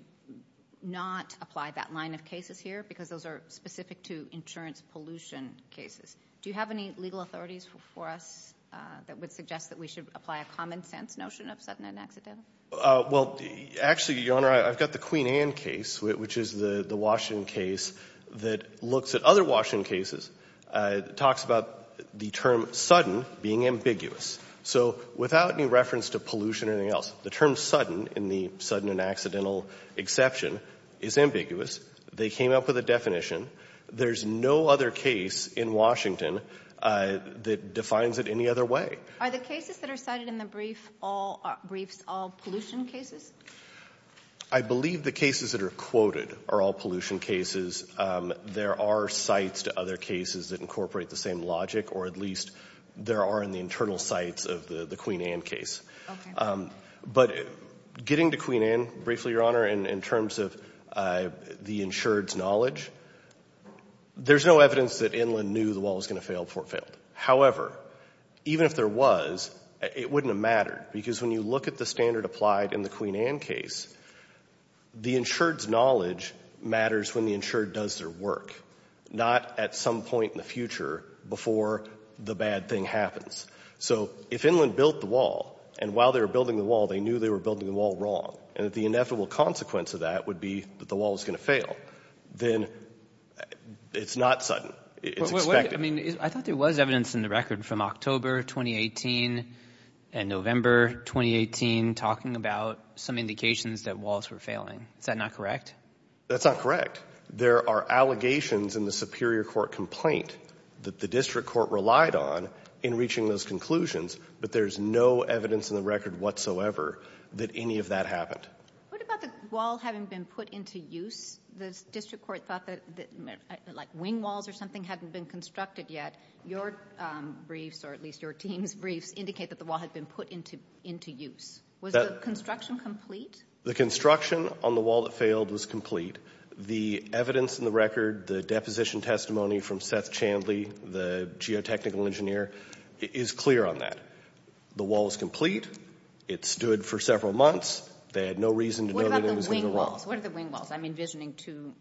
not apply that line of cases here because those are specific to insurance pollution cases. Do you have any legal authorities for us that would suggest that we should apply a common sense notion of sudden and accidental? Well, actually, Your Honor, I've got the Queen Anne case, which is the Washington case, that looks at other Washington cases. It talks about the term sudden being ambiguous. So without any reference to pollution or anything else, the term sudden in the sudden and accidental exception is ambiguous. They came up with a definition. There's no other case in Washington that defines it any other way. Are the cases that are cited in the brief all pollution cases? I believe the cases that are quoted are all pollution cases. There are sites to other cases that incorporate the same logic, or at least there are in the internal sites of the Queen Anne case. Okay. But getting to Queen Anne briefly, Your Honor, in terms of the insured's knowledge, there's no evidence that Inland knew the wall was going to fail before it failed. However, even if there was, it wouldn't have mattered, because when you look at the standard applied in the Queen Anne case, the insured's knowledge matters when the insured does their work, not at some point in the future before the bad thing happens. So if Inland built the wall, and while they were building the wall, they knew they were building the wall wrong, and that the inevitable consequence of that would be that the wall was going to fail, then it's not sudden. It's expected. I mean, I thought there was evidence in the record from October 2018 and November 2018 talking about some indications that walls were failing. Is that not correct? That's not correct. There are allegations in the superior court complaint that the district court relied on in reaching those conclusions, but there's no evidence in the record whatsoever that any of that happened. What about the wall having been put into use? The district court thought that, like, wing walls or something hadn't been constructed yet. Your briefs, or at least your team's briefs, indicate that the wall had been put into use. Was the construction complete? The construction on the wall that failed was complete. The evidence in the record, the deposition testimony from Seth Chandley, the geotechnical engineer, is clear on that. The wall is complete. It stood for several months. They had no reason to know that it was going to go wrong. What about the wing walls? What are the wing walls? I'm envisioning two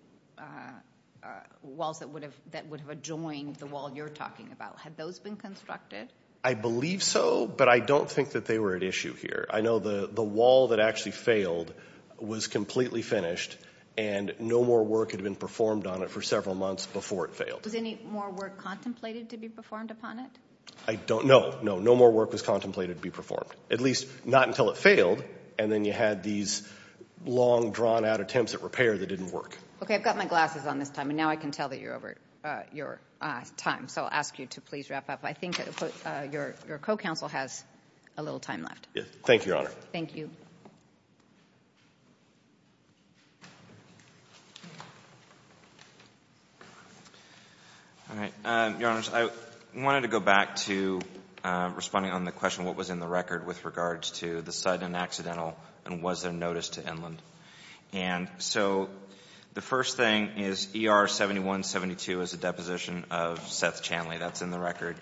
walls that would have adjoined the wall you're talking about. Had those been constructed? I believe so, but I don't think that they were at issue here. I know the wall that actually failed was completely finished, and no more work had been performed on it for several months before it failed. Was any more work contemplated to be performed upon it? I don't know. No, no more work was contemplated to be performed, at least not until it failed, and then you had these long, drawn-out attempts at repair that didn't work. Okay, I've got my glasses on this time, and now I can tell that you're over your time, so I'll ask you to please wrap up. I think your co-counsel has a little time left. Thank you, Your Honor. Thank you. All right. Your Honor, I wanted to go back to responding on the question of what was in the record with regards to the sudden and accidental, and was there notice to Inland. And so the first thing is ER-7172 is a deposition of Seth Chanley. That's in the record.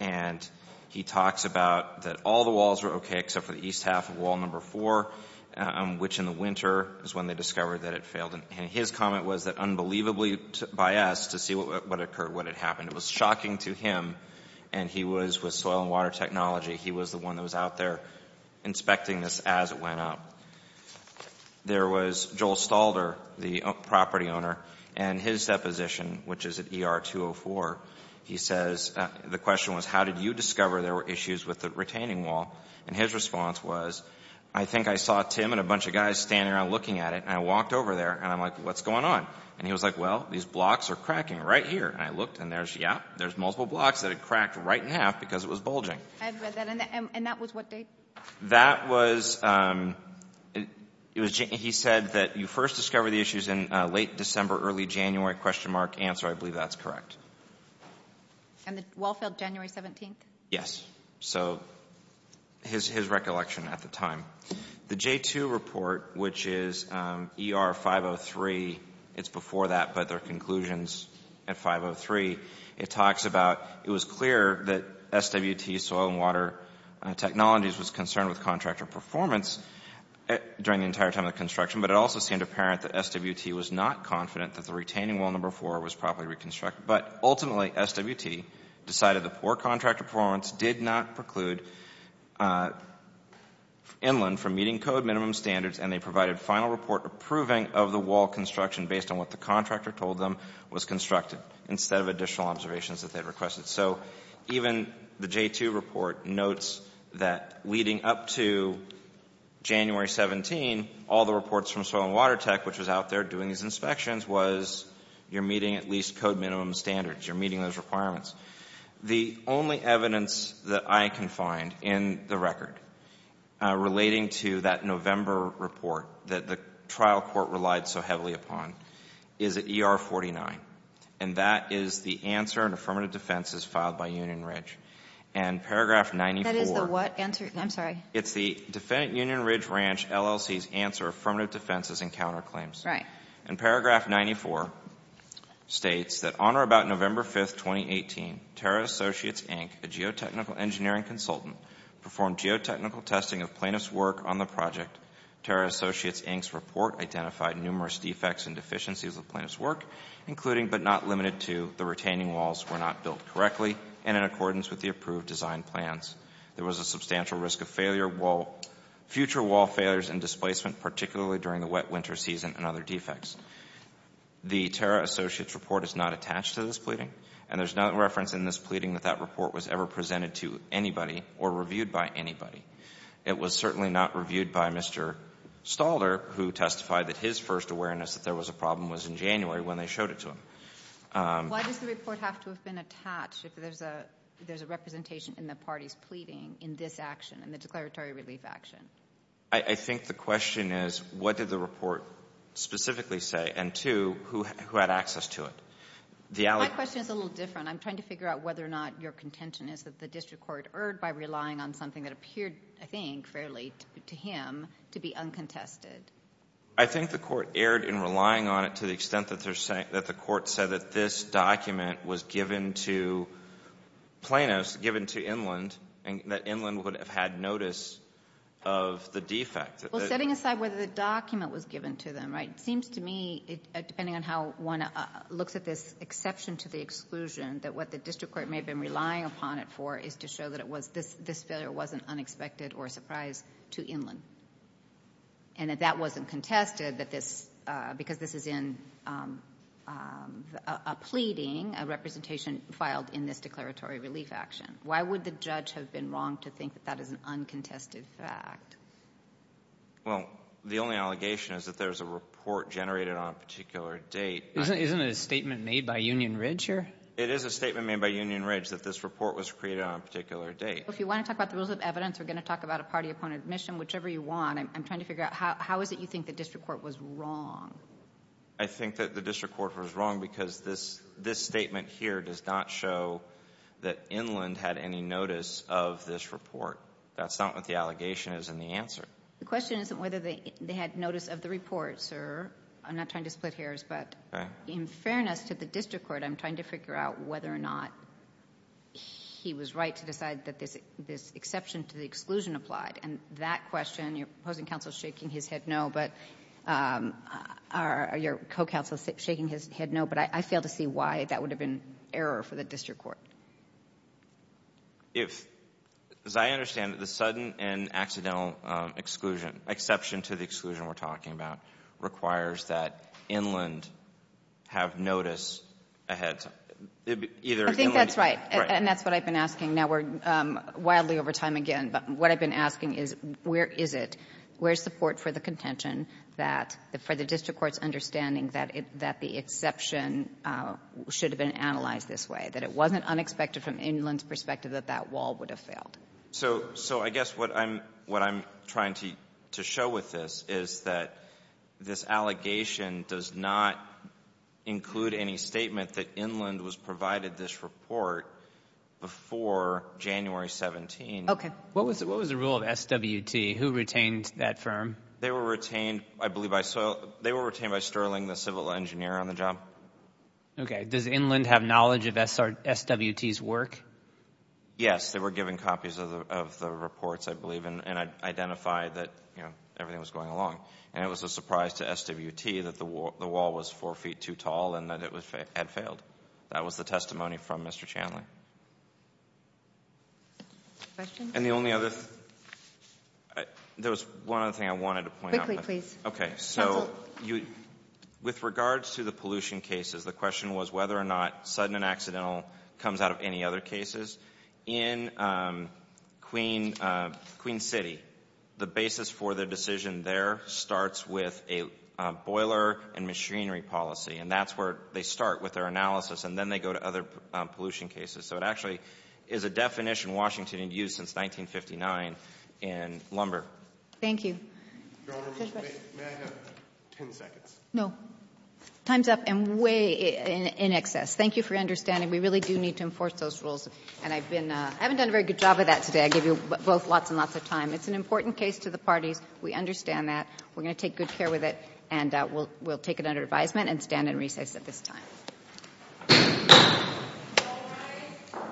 And he talks about that all the walls were okay except for the east half of wall number 4, which in the winter is when they discovered that it failed. And his comment was that unbelievably biased to see what occurred, what had happened. It was shocking to him, and he was with Soil and Water Technology. He was the one that was out there inspecting this as it went up. There was Joel Stalder, the property owner, and his deposition, which is at ER-204, he says the question was how did you discover there were issues with the retaining wall? And his response was, I think I saw Tim and a bunch of guys standing around looking at it, and I walked over there, and I'm like, what's going on? And he was like, well, these blocks are cracking right here. And I looked, and there's, yeah, there's multiple blocks that had cracked right in half because it was bulging. And that was what date? That was, he said that you first discovered the issues in late December, early January, question mark, answer, I believe that's correct. And the wall failed January 17th? Yes. So his recollection at the time. The J-2 report, which is ER-503, it's before that, but their conclusions at 503, it talks about it was clear that SWT Soil and Water Technologies was concerned with contractor performance during the entire time of the construction, but it also seemed apparent that SWT was not confident that the retaining wall number four was properly reconstructed. But ultimately, SWT decided the poor contractor performance did not preclude Inland from meeting code minimum standards, and they provided final report approving of the wall construction based on what the contractor told them was constructed instead of additional observations that they requested. So even the J-2 report notes that leading up to January 17, all the reports from Soil and Water Tech, which was out there doing these inspections, was you're meeting at least code minimum standards. You're meeting those requirements. The only evidence that I can find in the record relating to that November report that the trial court relied so heavily upon is at ER-49, and that is the answer in affirmative defenses filed by Union Ridge. And paragraph 94. That is the what answer? I'm sorry. It's the Defendant Union Ridge Ranch LLC's answer affirmative defenses and counterclaims. Right. And paragraph 94 states that on or about November 5, 2018, Terra Associates, Inc., a geotechnical engineering consultant, performed geotechnical testing of plaintiff's work on the project. Terra Associates, Inc.'s report identified numerous defects and deficiencies of plaintiff's work, including but not limited to the retaining walls were not built correctly and in accordance with the approved design plans. There was a substantial risk of future wall failures and displacement, particularly during the wet winter season and other defects. The Terra Associates report is not attached to this pleading, and there's no reference in this pleading that that report was ever presented to anybody or reviewed by anybody. It was certainly not reviewed by Mr. Stalder, who testified that his first awareness that there was a problem was in January when they showed it to him. Why does the report have to have been attached if there's a representation in the party's pleading in this action, in the declaratory relief action? I think the question is, what did the report specifically say? And two, who had access to it? My question is a little different. I'm trying to figure out whether or not your contention is that the district court erred by relying on something that appeared, I think, fairly to him, to be uncontested. I think the court erred in relying on it to the extent that the court said that this document was given to plaintiffs, given to Inland, and that Inland would have had notice of the defect. Well, setting aside whether the document was given to them, right, it seems to me, depending on how one looks at this exception to the exclusion, that what the district court may have been relying upon it for is to show that this failure wasn't unexpected or a surprise to Inland, and that that wasn't contested, that this, because this is in a pleading, a representation filed in this declaratory relief action. Why would the judge have been wrong to think that that is an uncontested fact? Well, the only allegation is that there's a report generated on a particular date. Isn't it a statement made by Union Ridge here? It is a statement made by Union Ridge that this report was created on a particular date. Well, if you want to talk about the rules of evidence, we're going to talk about a party-opponent admission, whichever you want. I'm trying to figure out how is it you think the district court was wrong? I think that the district court was wrong because this statement here does not show that Inland had any notice of this report. That's not what the allegation is in the answer. The question isn't whether they had notice of the report, sir. I'm not trying to split hairs, but in fairness to the district court, I'm trying to figure out whether or not he was right to decide that this exception to the exclusion applied, and that question, your opposing counsel is shaking his head no, but your co-counsel is shaking his head no, but I fail to see why that would have been error for the district court. If, as I understand it, the sudden and accidental exclusion, exception to the exclusion we're talking about requires that Inland have notice ahead. Either Inland. I think that's right. Right. And that's what I've been asking. Now, we're wildly over time again, but what I've been asking is where is it, where is support for the contention that for the district court's understanding that the exception should have been analyzed this way, that it wasn't unexpected from Inland's perspective that that wall would have failed? So I guess what I'm trying to show with this is that this allegation does not include any statement that Inland was provided this report before January 17th. Okay. What was the rule of SWT? Who retained that firm? They were retained, I believe, by Sterling, the civil engineer on the job. Okay. Does Inland have knowledge of SWT's work? Yes. They were given copies of the reports, I believe, and identified that everything was going along. And it was a surprise to SWT that the wall was four feet too tall and that it had failed. That was the testimony from Mr. Chandler. Questions? And the only other, there was one other thing I wanted to point out. Quickly, please. Okay. So with regards to the pollution cases, the question was whether or not sudden and accidental comes out of any other cases. In Queen City, the basis for the decision there starts with a boiler and machinery policy, and that's where they start with their analysis, and then they go to other pollution cases. So it actually is a definition Washington had used since 1959 in lumber. Thank you. Your Honor, may I have 10 seconds? No. Time's up and way in excess. Thank you for your understanding. We really do need to enforce those rules, and I've been — I haven't done a very good job of that today. I gave you both lots and lots of time. It's an important case to the parties. We understand that. We're going to take good care with it, and we'll take it under advisement and stand in recess at this time. All rise.